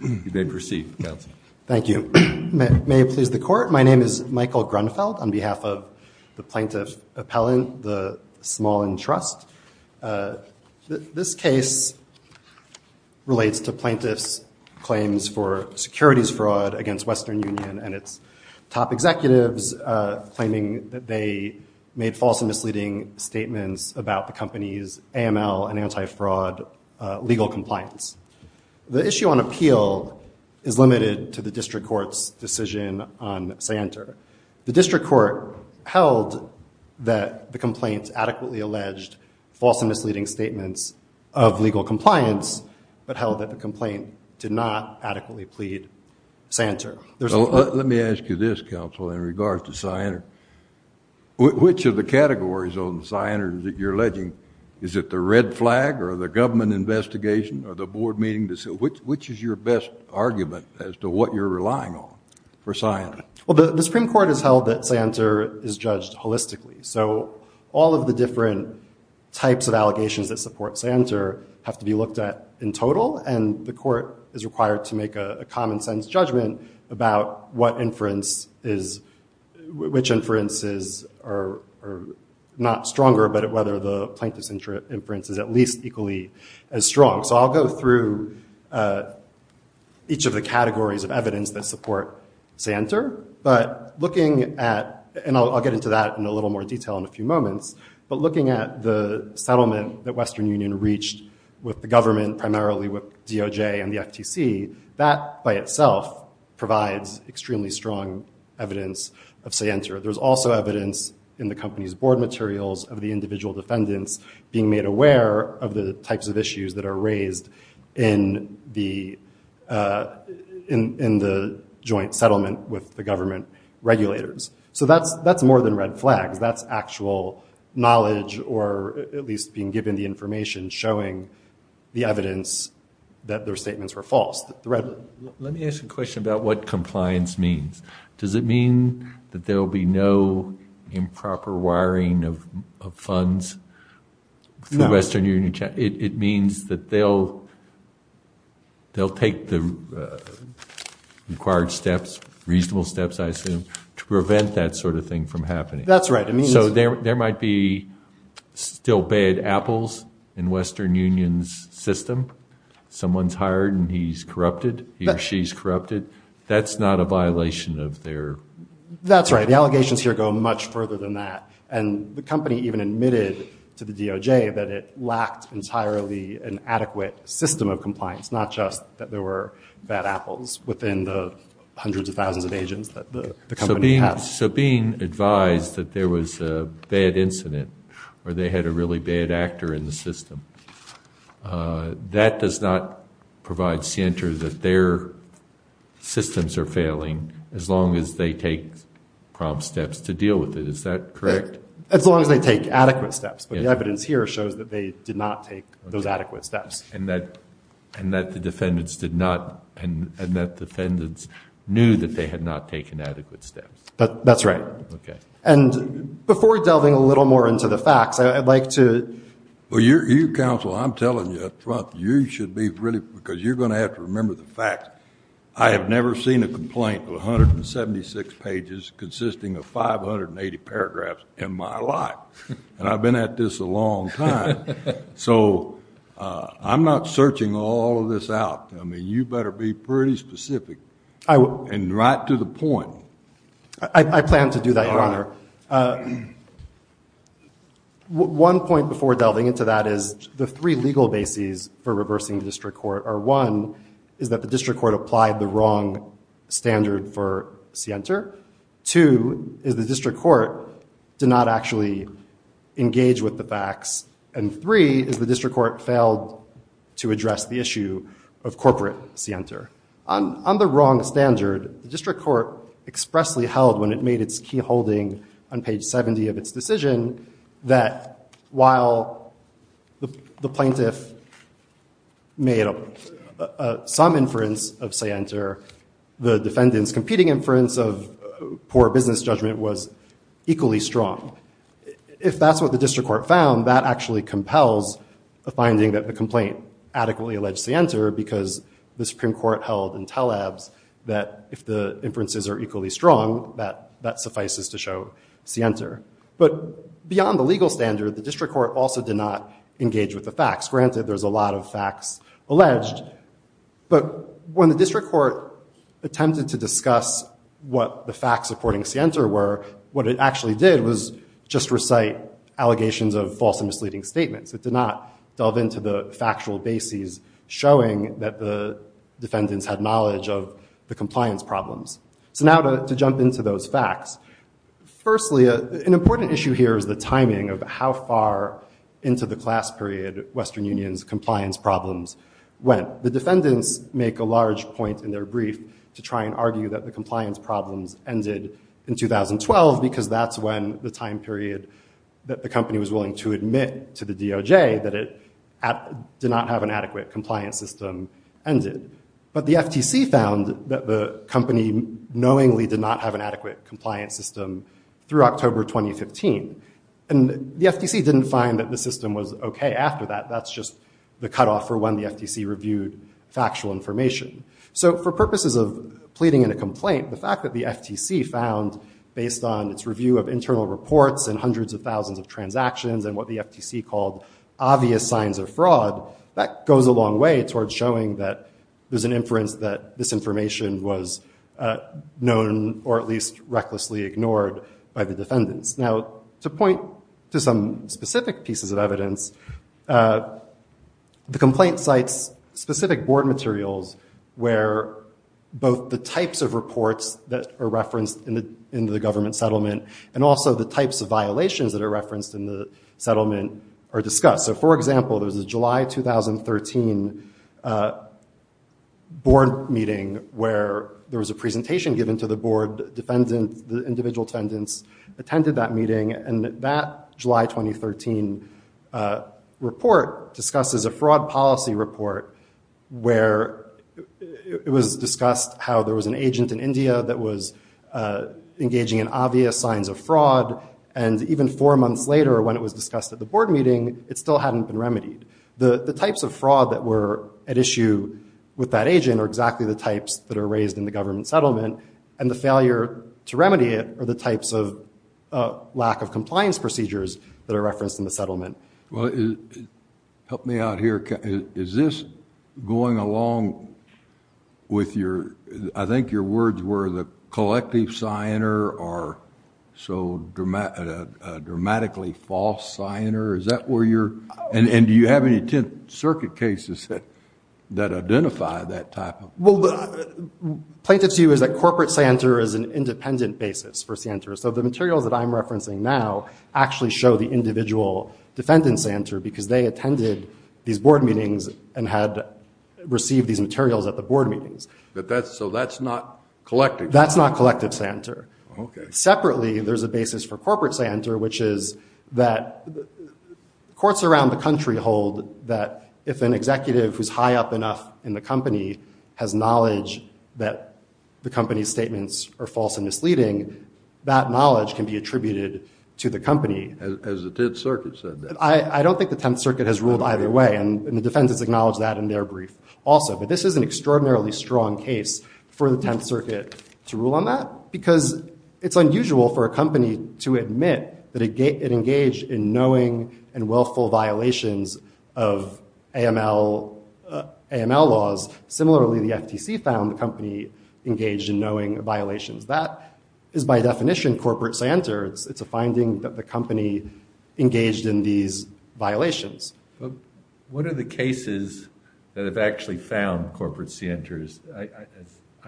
Thank you. May it please the court, my name is Michael Grunfeld on behalf of the plaintiff appellant, the Smallen Trust. This case relates to plaintiffs claims for securities fraud against Western Union and its top executives claiming that they made false and misleading statements about the compliance. The issue on appeal is limited to the district court's decision on Santer. The district court held that the complaints adequately alleged false and misleading statements of legal compliance but held that the complaint did not adequately plead Santer. Let me ask you this counsel in regards to Santer, which of the categories on Santer that you're alleging, is it the government investigation or the board meeting, which is your best argument as to what you're relying on for Santer? Well the Supreme Court has held that Santer is judged holistically so all of the different types of allegations that support Santer have to be looked at in total and the court is required to make a common-sense judgment about what inference is, which inferences are not stronger but whether the plaintiff's inference is at least equally as strong. So I'll go through each of the categories of evidence that support Santer but looking at, and I'll get into that in a little more detail in a few moments, but looking at the settlement that Western Union reached with the government, primarily with DOJ and the FTC, that by itself provides extremely strong evidence of Santer. There's also evidence in the company's materials of the individual defendants being made aware of the types of issues that are raised in the joint settlement with the government regulators. So that's more than red flags, that's actual knowledge or at least being given the information showing the evidence that their statements were false. Let me ask a question about what compliance means. Does it mean that there'll be no improper wiring of funds for Western Union? It means that they'll take the required steps, reasonable steps I assume, to prevent that sort of thing from happening. That's right. So there might be still bad apples in Western Union's system. Someone's hired and he's corrupted, he or That's not a violation of their... That's right. The allegations here go much further than that and the company even admitted to the DOJ that it lacked entirely an adequate system of compliance, not just that there were bad apples within the hundreds of thousands of agents that the company has. So being advised that there was a bad incident or they had a really bad actor in the systems are failing as long as they take prompt steps to deal with it. Is that correct? As long as they take adequate steps. But the evidence here shows that they did not take those adequate steps. And that the defendants did not... And that defendants knew that they had not taken adequate steps. That's right. And before delving a little more into the facts, I'd like to... Well, you counsel, I'm telling you up front, you should be really... Because you're going to have to remember the facts. I have never seen a complaint of 176 pages consisting of 580 paragraphs in my life. And I've been at this a long time. So I'm not searching all of this out. I mean, you better be pretty specific and right to the point. I plan to do that, Your Honor. One point before delving into that is the three is that the district court applied the wrong standard for Sienter. Two is the district court did not actually engage with the facts. And three is the district court failed to address the issue of corporate Sienter. On the wrong standard, the district court expressly held when it made its key holding on page 70 of its inference of Sienter, the defendant's competing inference of poor business judgment was equally strong. If that's what the district court found, that actually compels a finding that the complaint adequately alleged Sienter because the Supreme Court held in Taleb's that if the inferences are equally strong, that suffices to show Sienter. But beyond the legal standard, the district court also did not engage with the facts. Granted, there's a When the district court attempted to discuss what the facts supporting Sienter were, what it actually did was just recite allegations of false and misleading statements. It did not delve into the factual bases showing that the defendants had knowledge of the compliance problems. So now to jump into those facts. Firstly, an important issue here is the timing of how far into the large point in their brief to try and argue that the compliance problems ended in 2012 because that's when the time period that the company was willing to admit to the DOJ that it did not have an adequate compliance system ended. But the FTC found that the company knowingly did not have an adequate compliance system through October 2015. And the FTC didn't find that the system was okay after that. That's just the cutoff for when the FTC reviewed factual information. So for purposes of pleading in a complaint, the fact that the FTC found based on its review of internal reports and hundreds of thousands of transactions and what the FTC called obvious signs of fraud, that goes a long way towards showing that there's an inference that this information was known or at least recklessly ignored by the defendants. Now to point to some specific pieces of evidence, the complaint cites specific board materials where both the types of reports that are referenced in the government settlement and also the types of violations that are referenced in the settlement are discussed. So for example, there's a July 2013 board meeting where there was a presentation given to the board, the individual defendants attended that meeting and that July 2013 report discusses a fraud policy report where it was discussed how there was an agent in India that was engaging in obvious signs of fraud and even four months later when it was discussed at the board meeting, it still hadn't been remedied. The types of fraud that were at issue with that agent are exactly the types that are raised in the government settlement and the failure to procedures that are referenced in the settlement. Well, help me out here, is this going along with your, I think your words were the collective signer or so dramatically false signer, is that where you're, and do you have any Tenth Circuit cases that that identify that type of... Well, plaintiff's view is that corporate signer is an independent basis for actually show the individual defendant signer because they attended these board meetings and had received these materials at the board meetings. But that's, so that's not collective. That's not collective signer. Okay. Separately, there's a basis for corporate signer, which is that courts around the country hold that if an executive who's high up enough in the company has knowledge that the company's statements are false and misleading, that knowledge can be attributed to the company. As the Tenth Circuit said that. I don't think the Tenth Circuit has ruled either way. And the defense has acknowledged that in their brief also. But this is an extraordinarily strong case for the Tenth Circuit to rule on that because it's unusual for a company to admit that it engaged in knowing and willful violations of AML laws. Similarly, the FTC found the company engaged in knowing violations. That is by definition corporate center. It's a finding that the company engaged in these violations. What are the cases that have actually found corporate centers? I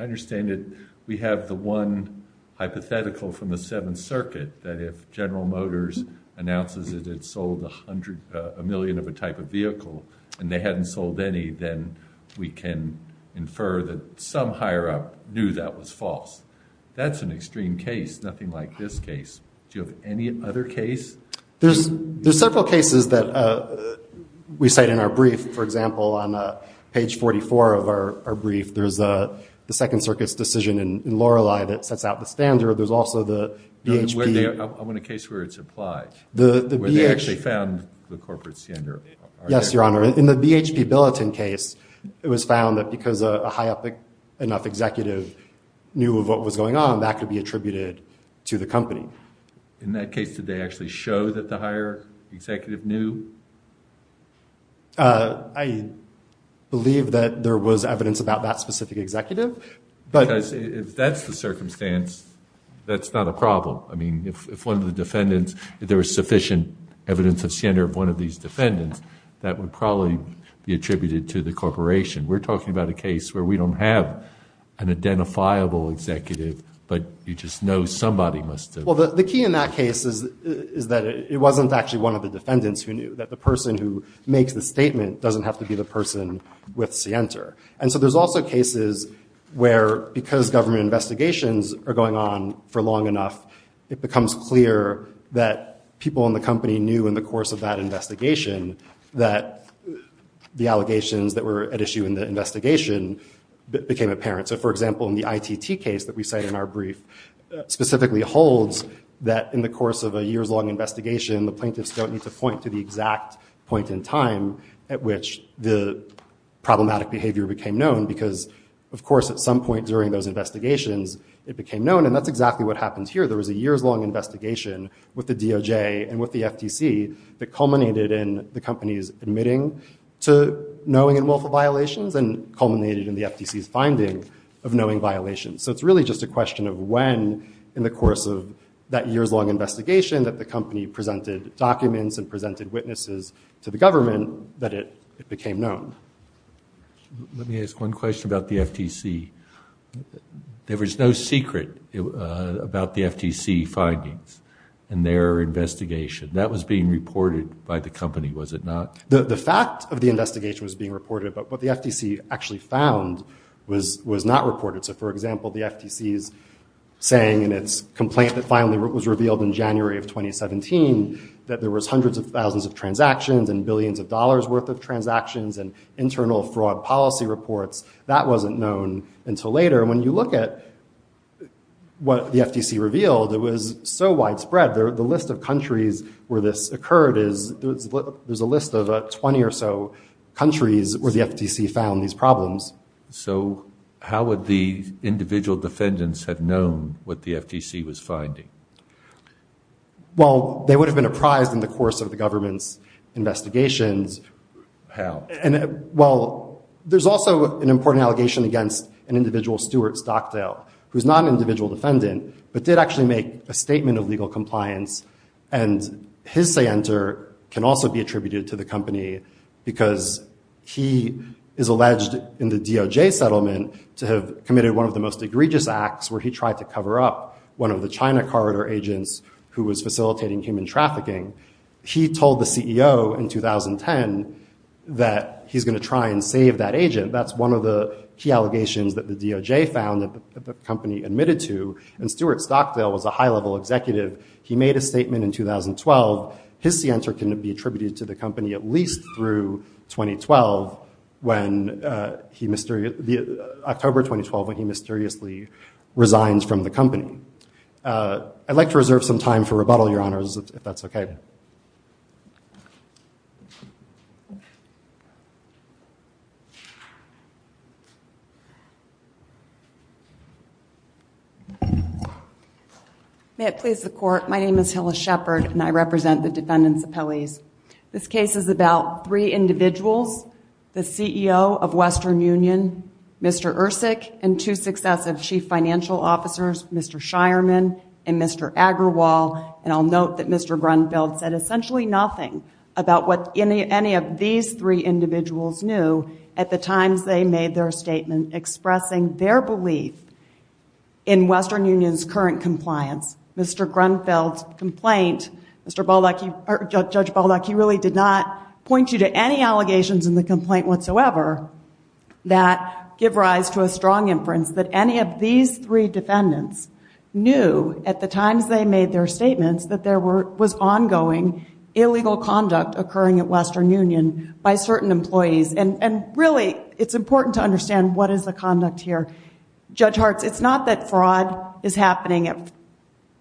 understand it. We have the one hypothetical from the Seventh Circuit that if General Motors announces that it sold a million of a type of vehicle and they hadn't sold any, then we can infer that some higher up knew that was false. That's an extreme case. Nothing like this case. Do you have any other case? There's several cases that we cite in our brief. For example, on page 44 of our brief, there's the Second Circuit's decision in Lorelei that sets out the standard. There's also the BHP. I want a case where it's applied. Where they actually found the corporate center. Yes, Your Honor. In the BHP Billiton case, it was found that because a high up enough executive knew of what was going on, that could be attributed to the company. In that case, did they actually show that the higher executive knew? I believe that there was evidence about that specific executive. Because if that's the circumstance, that's not a problem. I mean, if one of the defendants, if there was sufficient evidence of one of these defendants, that would probably be attributed to the corporation. We're talking about a case where we don't have an identifiable executive, but you just know somebody must have. Well, the key in that case is that it wasn't actually one of the defendants who knew, that the person who makes the statement doesn't have to be the person with Sienter. And so there's also cases where, because government investigations are going on for long enough, it becomes clear that people in the company knew in the course of that investigation that the allegations that were at issue in the investigation became apparent. So for example, in the ITT case that we cite in our brief, specifically holds that in the course of a year's long investigation, the plaintiffs don't need to point to the exact point in time at which the problematic behavior became known. Because, of course, at some point during those investigations, it became known. And that's exactly what happened here. There was a year's long investigation with the DOJ and with the FTC that culminated in the company's admitting to knowing in multiple violations and culminated in the FTC's finding of knowing violations. So it's really just a question of when, in the course of that year's long investigation, that the company presented documents and presented witnesses to the government that it became known. Let me ask one question about the FTC. There was no secret about the FTC findings in their investigation. That was being reported by the company, was it not? The fact of the investigation was being reported, but what the FTC actually found was not reported. So for example, the FTC's saying in its complaint that finally was revealed in January of 2017 that there was hundreds of thousands of transactions and billions of dollars worth of transactions and internal fraud policy reports, that wasn't known until later. And when you look at what the FTC revealed, it was so widespread. The list of countries where this occurred is, there's a list of 20 or so countries where the FTC found these problems. So how would the individual defendants have known what the FTC was finding? Well, they would have been apprised in the course of the government's investigations. How? Well, there's also an important allegation against an individual, Stuart Stockdale, who's not an individual defendant, but did actually make a statement of legal compliance. And his say-enter can also be attributed to the company because he is alleged in the DOJ settlement to have committed one of the most egregious acts where he tried to cover up one of the China corridor agents who was facilitating human trafficking. He told the CEO in 2010 that he's going to try and save that agent. That's one of the key allegations that the DOJ found that the company admitted to. And Stuart Stockdale was a high-level executive. He made a statement in 2012. His say-enter can be attributed to the company at least through October 2012 when he mysteriously resigned from the company. I'd like to reserve some time for rebuttal, Your Honors, if that's OK. May it please the Court. My name is Hillis Shepard, and I represent the defendants' appellees. This case is about three individuals, the CEO of Western Union, Mr. Ercik, and two successive chief financial officers, Mr. Shireman and Mr. Agrawal. And I'll note that Mr. Grunfeld said essentially nothing about what any of these three individuals knew at the times they made their statement, expressing their belief in Western Union's current compliance. Mr. Grunfeld's complaint, Judge Baldock, he really did not point you to any strong inference that any of these three defendants knew at the times they made their statements that there was ongoing illegal conduct occurring at Western Union by certain employees. And really, it's important to understand what is the conduct here. Judge Hartz, it's not that fraud is happening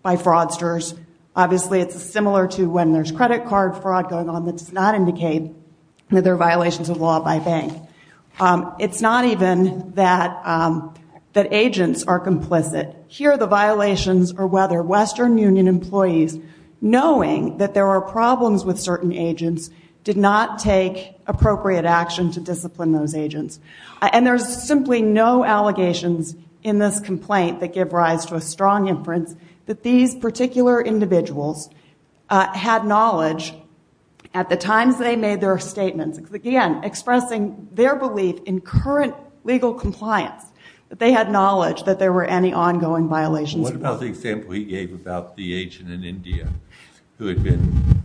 by fraudsters. Obviously, it's similar to when there's credit card fraud going on that does not indicate that there are violations of law by bank. It's not even that agents are complicit. Here, the violations are whether Western Union employees, knowing that there are problems with certain agents, did not take appropriate action to discipline those agents. And there's simply no allegations in this complaint that give rise to a strong inference that these particular individuals had knowledge at the times they made their statements. Again, expressing their belief in current legal compliance, that they had knowledge that there were any ongoing violations of law. What about the example he gave about the agent in India who had been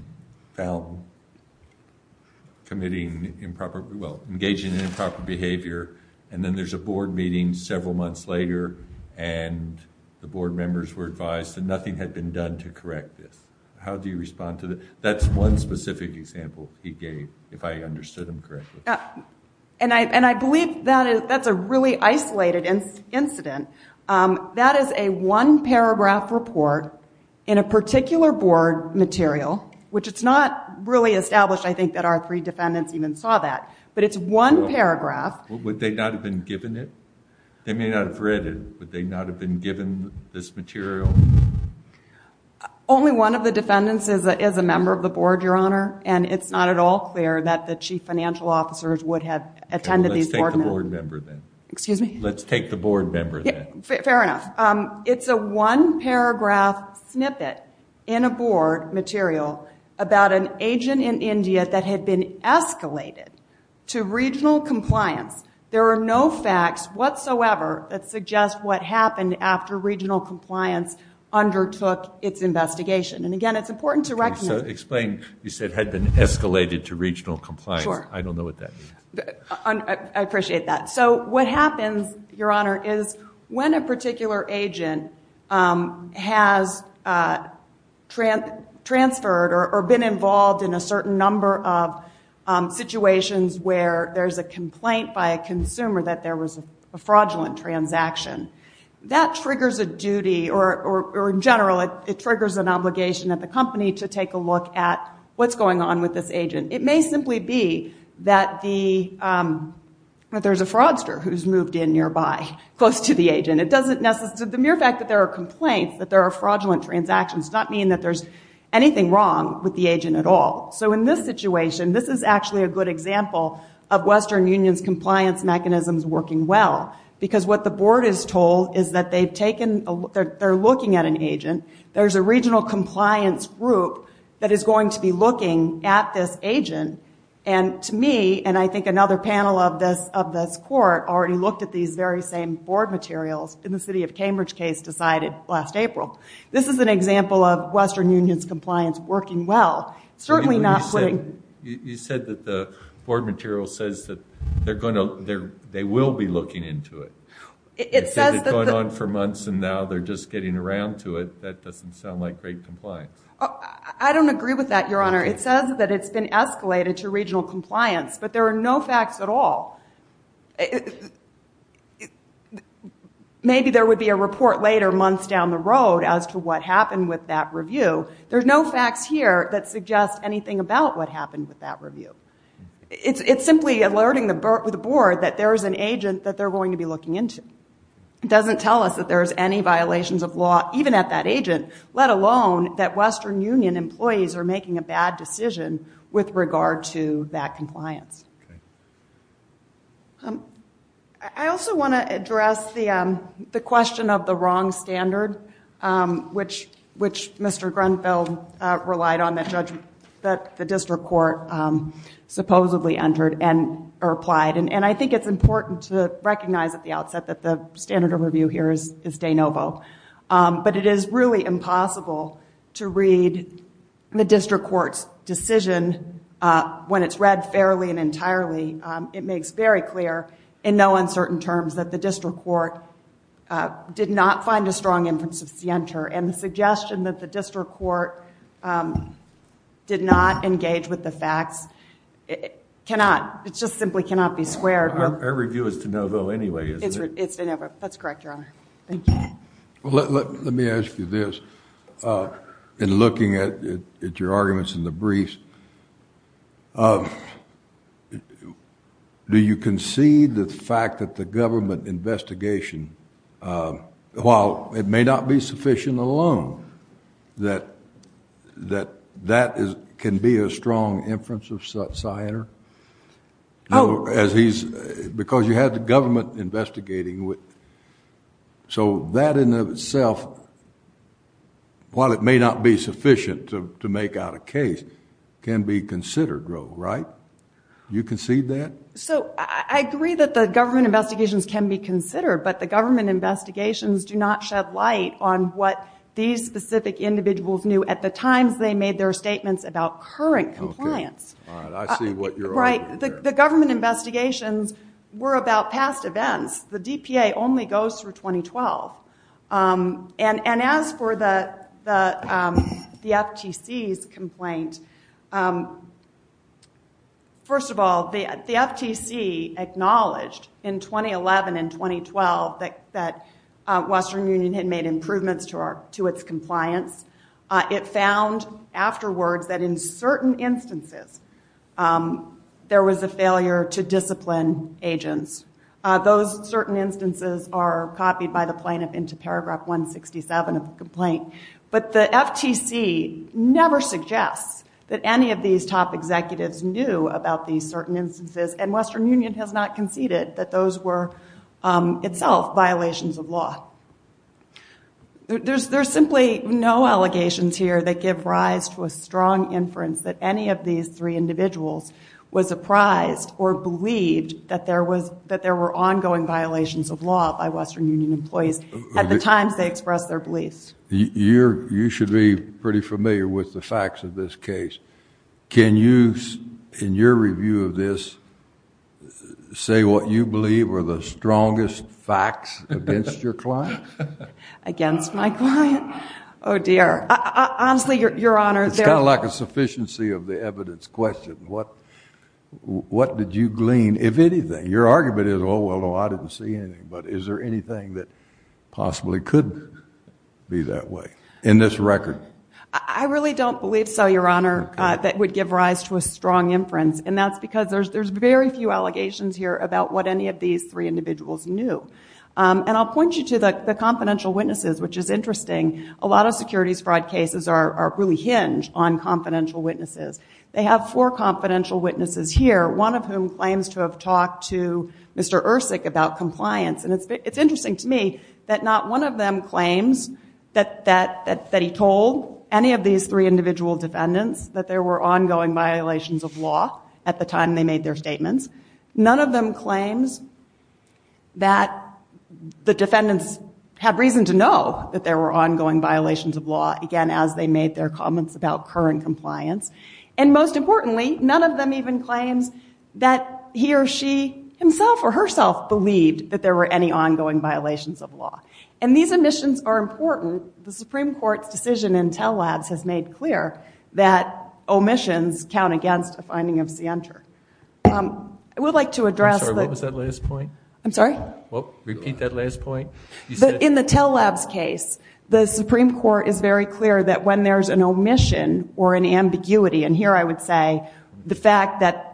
found engaging in improper behavior and then there's a board meeting several months later and the board members were advised that nothing had been done to correct this. How do you respond to that? That's one specific example he gave, if I understood him correctly. And I believe that's a really isolated incident. That is a one-paragraph report in a particular board material, which it's not really established, I think, that our three defendants even saw that, but it's one paragraph. Would they not have been given it? They may not have read it, but they not have been given this material? Only one of the defendants is a member of the board, Your Honor, and it's not at all clear that the chief financial officers would have attended these board meetings. Let's take the board member then. Excuse me? Let's take the board member then. Fair enough. It's a one-paragraph snippet in a board material about an agent in India that had been escalated to regional compliance. There are no facts whatsoever that suggest what happened after regional compliance undertook its investigation. And again, it's important to recognize- Explain. You said had been escalated to regional compliance. I don't know what that means. I appreciate that. So what happens, Your Honor, is when a particular agent has transferred or been involved in a certain number of situations where there's a complaint by a transaction, that triggers a duty or, in general, it triggers an obligation at the company to take a look at what's going on with this agent. It may simply be that there's a fraudster who's moved in nearby close to the agent. The mere fact that there are complaints, that there are fraudulent transactions does not mean that there's anything wrong with the agent at all. So in this situation, this is actually a good example of Western Union's What the board is told is that they're looking at an agent. There's a regional compliance group that is going to be looking at this agent. And to me, and I think another panel of this court already looked at these very same board materials in the City of Cambridge case decided last April. This is an example of Western Union's compliance working well. Certainly not- You said that the board material says that they will be looking into it. It says that- It's been going on for months, and now they're just getting around to it. That doesn't sound like great compliance. I don't agree with that, Your Honor. It says that it's been escalated to regional compliance, but there are no facts at all. Maybe there would be a report later, months down the road, as to what happened with that review. There's no facts here that suggest anything about what happened with that review. It's simply alerting the board that there is an agent that they're going to be looking into. It doesn't tell us that there's any violations of law even at that agent, let alone that Western Union employees are making a bad decision with regard to that compliance. I also want to address the question of the wrong standard, which Mr. Grunfeld relied on that the district court supposedly entered or applied. I think it's important to recognize at the outset that the standard of review here is de novo, but it is really impossible to read the district court's decision when it's read fairly and entirely. It makes very clear in no uncertain terms that the district court did not find a strong inference of scienter. The suggestion that the district court did not engage with the facts, it just simply cannot be squared. Our review is de novo anyway, isn't it? It's de novo. That's correct, Your Honor. Thank you. Let me ask you this, in looking at your arguments in the briefs, do you concede the fact that the government investigation, while it may not be sufficient alone, that that can be a strong inference of scienter? Because you had the government investigating, so that in and of itself, while it may not be sufficient to make out a case, can be considered wrong, right? You concede that? I agree that the government investigations can be considered, but the government investigations do not shed light on what these specific individuals knew at the times they made their statements about current compliance. All right. I see what you're arguing there. Right. The government investigations were about past events. The DPA only goes through 2012. And as for the FTC's complaint, first of all, the FTC acknowledged in 2011 and 2012 that Western Union had made improvements to its compliance. It found afterwards that in certain instances, there was a failure to discipline agents. Those certain instances are copied by the plaintiff into paragraph 167 of the complaint. But the FTC never suggests that any of these top executives knew about these certain instances, and Western Union has not conceded that those were itself violations of law. There's simply no allegations here that give rise to a strong inference that any of these three individuals was apprised or believed that there were ongoing violations of law by Western Union employees at the times they expressed their beliefs. You should be pretty familiar with the facts of this case. Can you, in your review of this, say what you believe were the strongest facts against your client? Against my client? Oh, dear. Honestly, Your Honor, there are... It's kind of like a sufficiency of the evidence question. What did you glean, if anything? Your argument is, oh, well, no, I didn't see anything, but is there anything that possibly could be that way in this record? I really don't believe so, Your Honor, that would give rise to a strong inference, and that's because there's very few allegations here about what any of these three individuals knew. And I'll point you to the confidential witnesses, which is interesting. A lot of securities fraud cases are really hinged on confidential witnesses. They have four confidential witnesses here, one of whom claims to have talked to Mr. Ercik about compliance. And it's interesting to me that not one of them claims that he told any of these three individual defendants that there were ongoing violations of law at the time they made their statements. None of them claims that the defendants have reason to know that there were ongoing violations of law, again, as they made their comments about current compliance. And most importantly, none of them even claims that he or she himself or herself believed that there were any ongoing violations of law. And these omissions are important. The Supreme Court's decision in Tell Labs has made clear that omissions count against a finding of scienter. I would like to address the- I'm sorry. What was that last point? I'm sorry? Well, repeat that last point. You said- In the Tell Labs case, the Supreme Court is very clear that when there's an omission or an ambiguity, and here I would say the fact that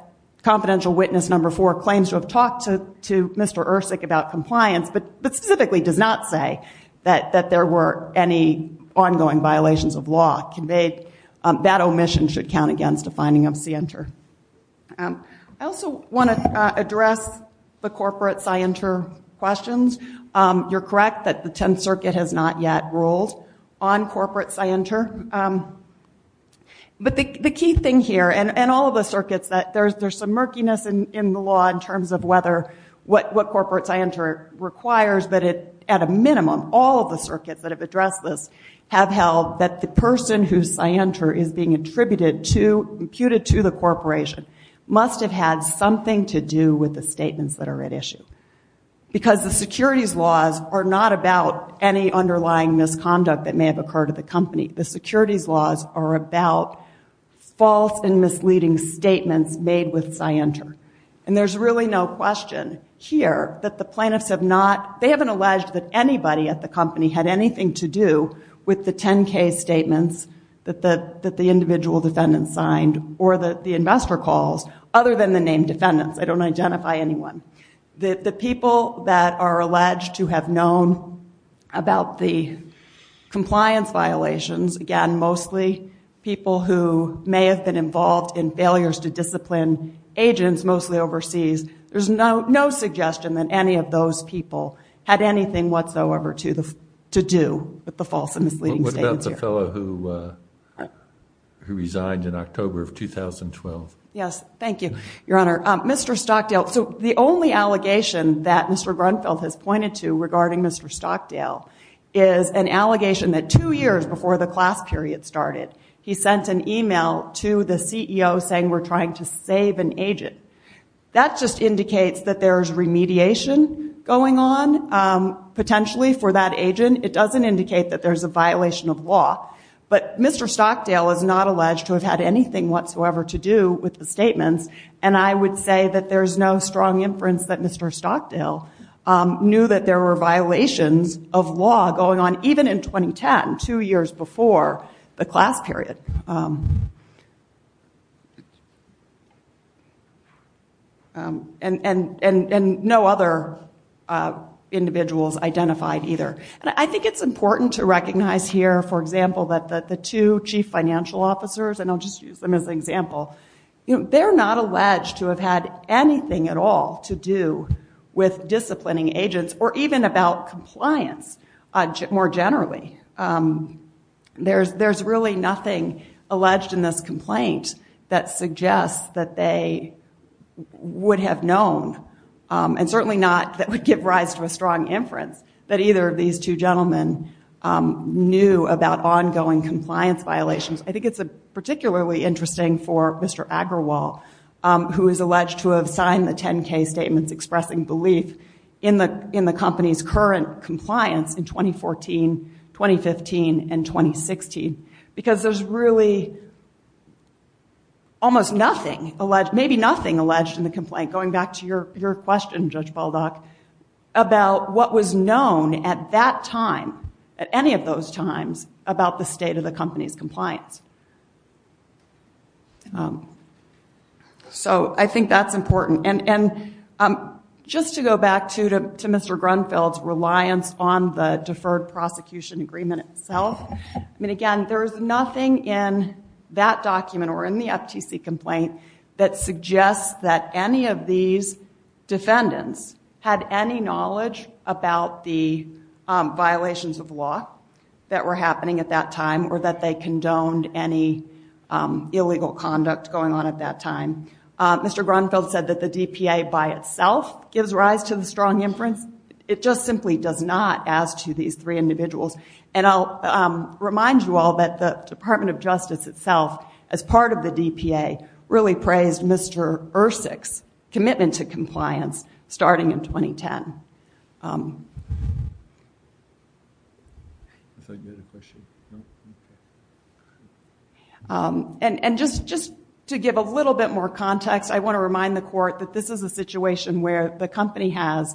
confidential witness number four claims to have talked to Mr. Ersic about compliance, but specifically does not say that there were any ongoing violations of law conveyed, that omission should count against a finding of scienter. I also want to address the corporate scienter questions. You're correct that the Tenth Circuit has not yet ruled on corporate scienter. But the key thing here, and all of the circuits, there's some murkiness in the law in terms of what corporate scienter requires, but at a minimum, all of the circuits that have addressed this have held that the person whose scienter is being imputed to the corporation must have had something to do with the statements that are at issue. Because the securities laws are not about any underlying misconduct that may have occurred at the company. The securities laws are about false and misleading statements made with scienter. And there's really no question here that the plaintiffs have not, they haven't alleged that anybody at the company had anything to do with the 10 case statements that the individual defendant signed or that the investor calls, other than the named defendants. I don't identify anyone. The people that are alleged to have known about the compliance violations, again, mostly people who may have been involved in failures to discipline agents, mostly overseas. There's no suggestion that any of those people had anything whatsoever to do with the false and misleading statements. What about the fellow who resigned in October of 2012? Yes. Thank you, Your Honor. Mr. Stockdale. So the only allegation that Mr. Grunfeld has pointed to regarding Mr. Stockdale is an allegation that two years before the class period started, he sent an email to the CEO saying, we're trying to save an agent. That just indicates that there's remediation going on potentially for that agent. It doesn't indicate that there's a violation of law. But Mr. Stockdale is not alleged to have had anything whatsoever to do with the statements. And I would say that there's no strong inference that Mr. Stockdale knew that there were violations of law going on even in 2010, two years before the class period. And no other individuals identified either. I think it's important to recognize here, for example, that the two chief financial officers, and I'll just use them as an example, they're not alleged to have had anything at all to do with disciplining agents, or even about compliance more generally. There's really nothing alleged in this complaint that suggests that they would have known, and certainly not that would give rise to a strong inference, that either of these two gentlemen knew about ongoing compliance violations. I think it's particularly interesting for Mr. Agrawal, who is alleged to have signed the 10K statements expressing belief in the company's current compliance in 2014, 2015, and 2016. Because there's really almost nothing, maybe nothing alleged in the complaint, going back to your question, Judge Baldock, about what was known at that time, at any of those times, about the state of the company's compliance. So, I think that's important. And just to go back to Mr. Grunfeld's reliance on the deferred prosecution agreement itself, I mean, again, there's nothing in that document, or in the FTC complaint, that suggests that any of these defendants had any knowledge about the violations of law that were happening at that time, or that they condoned any illegal conduct going on at that time. Mr. Grunfeld said that the DPA, by itself, gives rise to the strong inference. It just simply does not, as to these three individuals. And I'll remind you all that the Department of Justice itself, as part of the DPA, really praised Mr. Ercik's commitment to compliance, starting in 2010. And just to give a little bit more context, I want to remind the Court that this is a situation where the company has,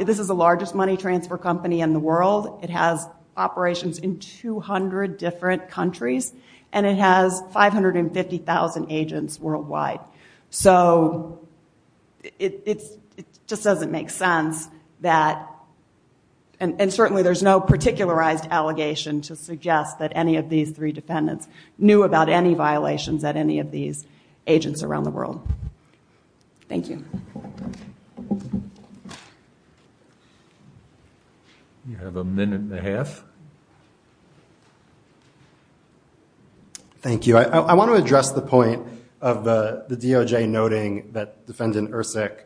this is the largest money transfer company in the world, it has operations in 200 different countries, and it has 550,000 agents worldwide. So it just doesn't make sense that, and certainly there's no particularized allegation to suggest that any of these three defendants knew about any violations at any of these agents around the world. Thank you. Thank you. I want to address the point of the DOJ noting that Defendant Ercik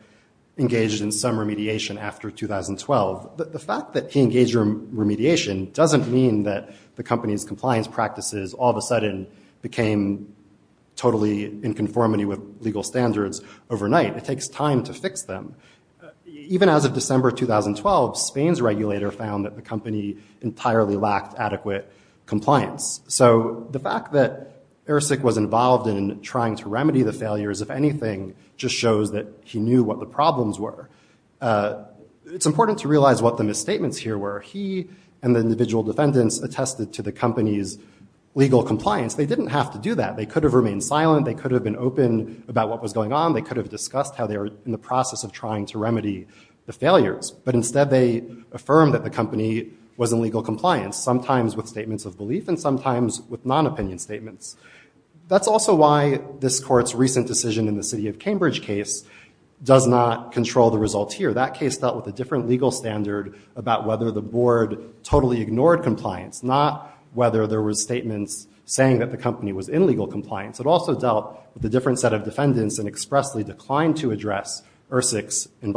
engaged in some remediation after 2012. The fact that he engaged in remediation doesn't mean that the company's compliance practices all of a sudden became totally in conformity with legal standards overnight. It takes time to fix them. Even as of December 2012, Spain's regulator found that the company entirely lacked adequate compliance. So the fact that Ercik was involved in trying to remedy the failures, if anything, just shows that he knew what the problems were. It's important to realize what the misstatements here were. He and the individual defendants attested to the company's legal compliance. They didn't have to do that. They could have remained silent, they could have been open about what was going on, they could have discussed how they were in the process of trying to remedy the failures. But instead they affirmed that the company was in legal compliance, sometimes with statements of belief and sometimes with non-opinion statements. That's also why this court's recent decision in the city of Cambridge case does not control the results here. That case dealt with a different legal standard about whether the board totally ignored compliance, not whether there were statements saying that the company was in legal compliance. It also dealt with a different set of defendants and expressly declined to address Ercik's In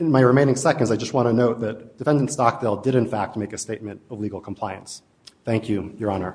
my remaining seconds, I just want to note that Defendant Stockdale did in fact make a statement of legal compliance. Thank you, Your Honor.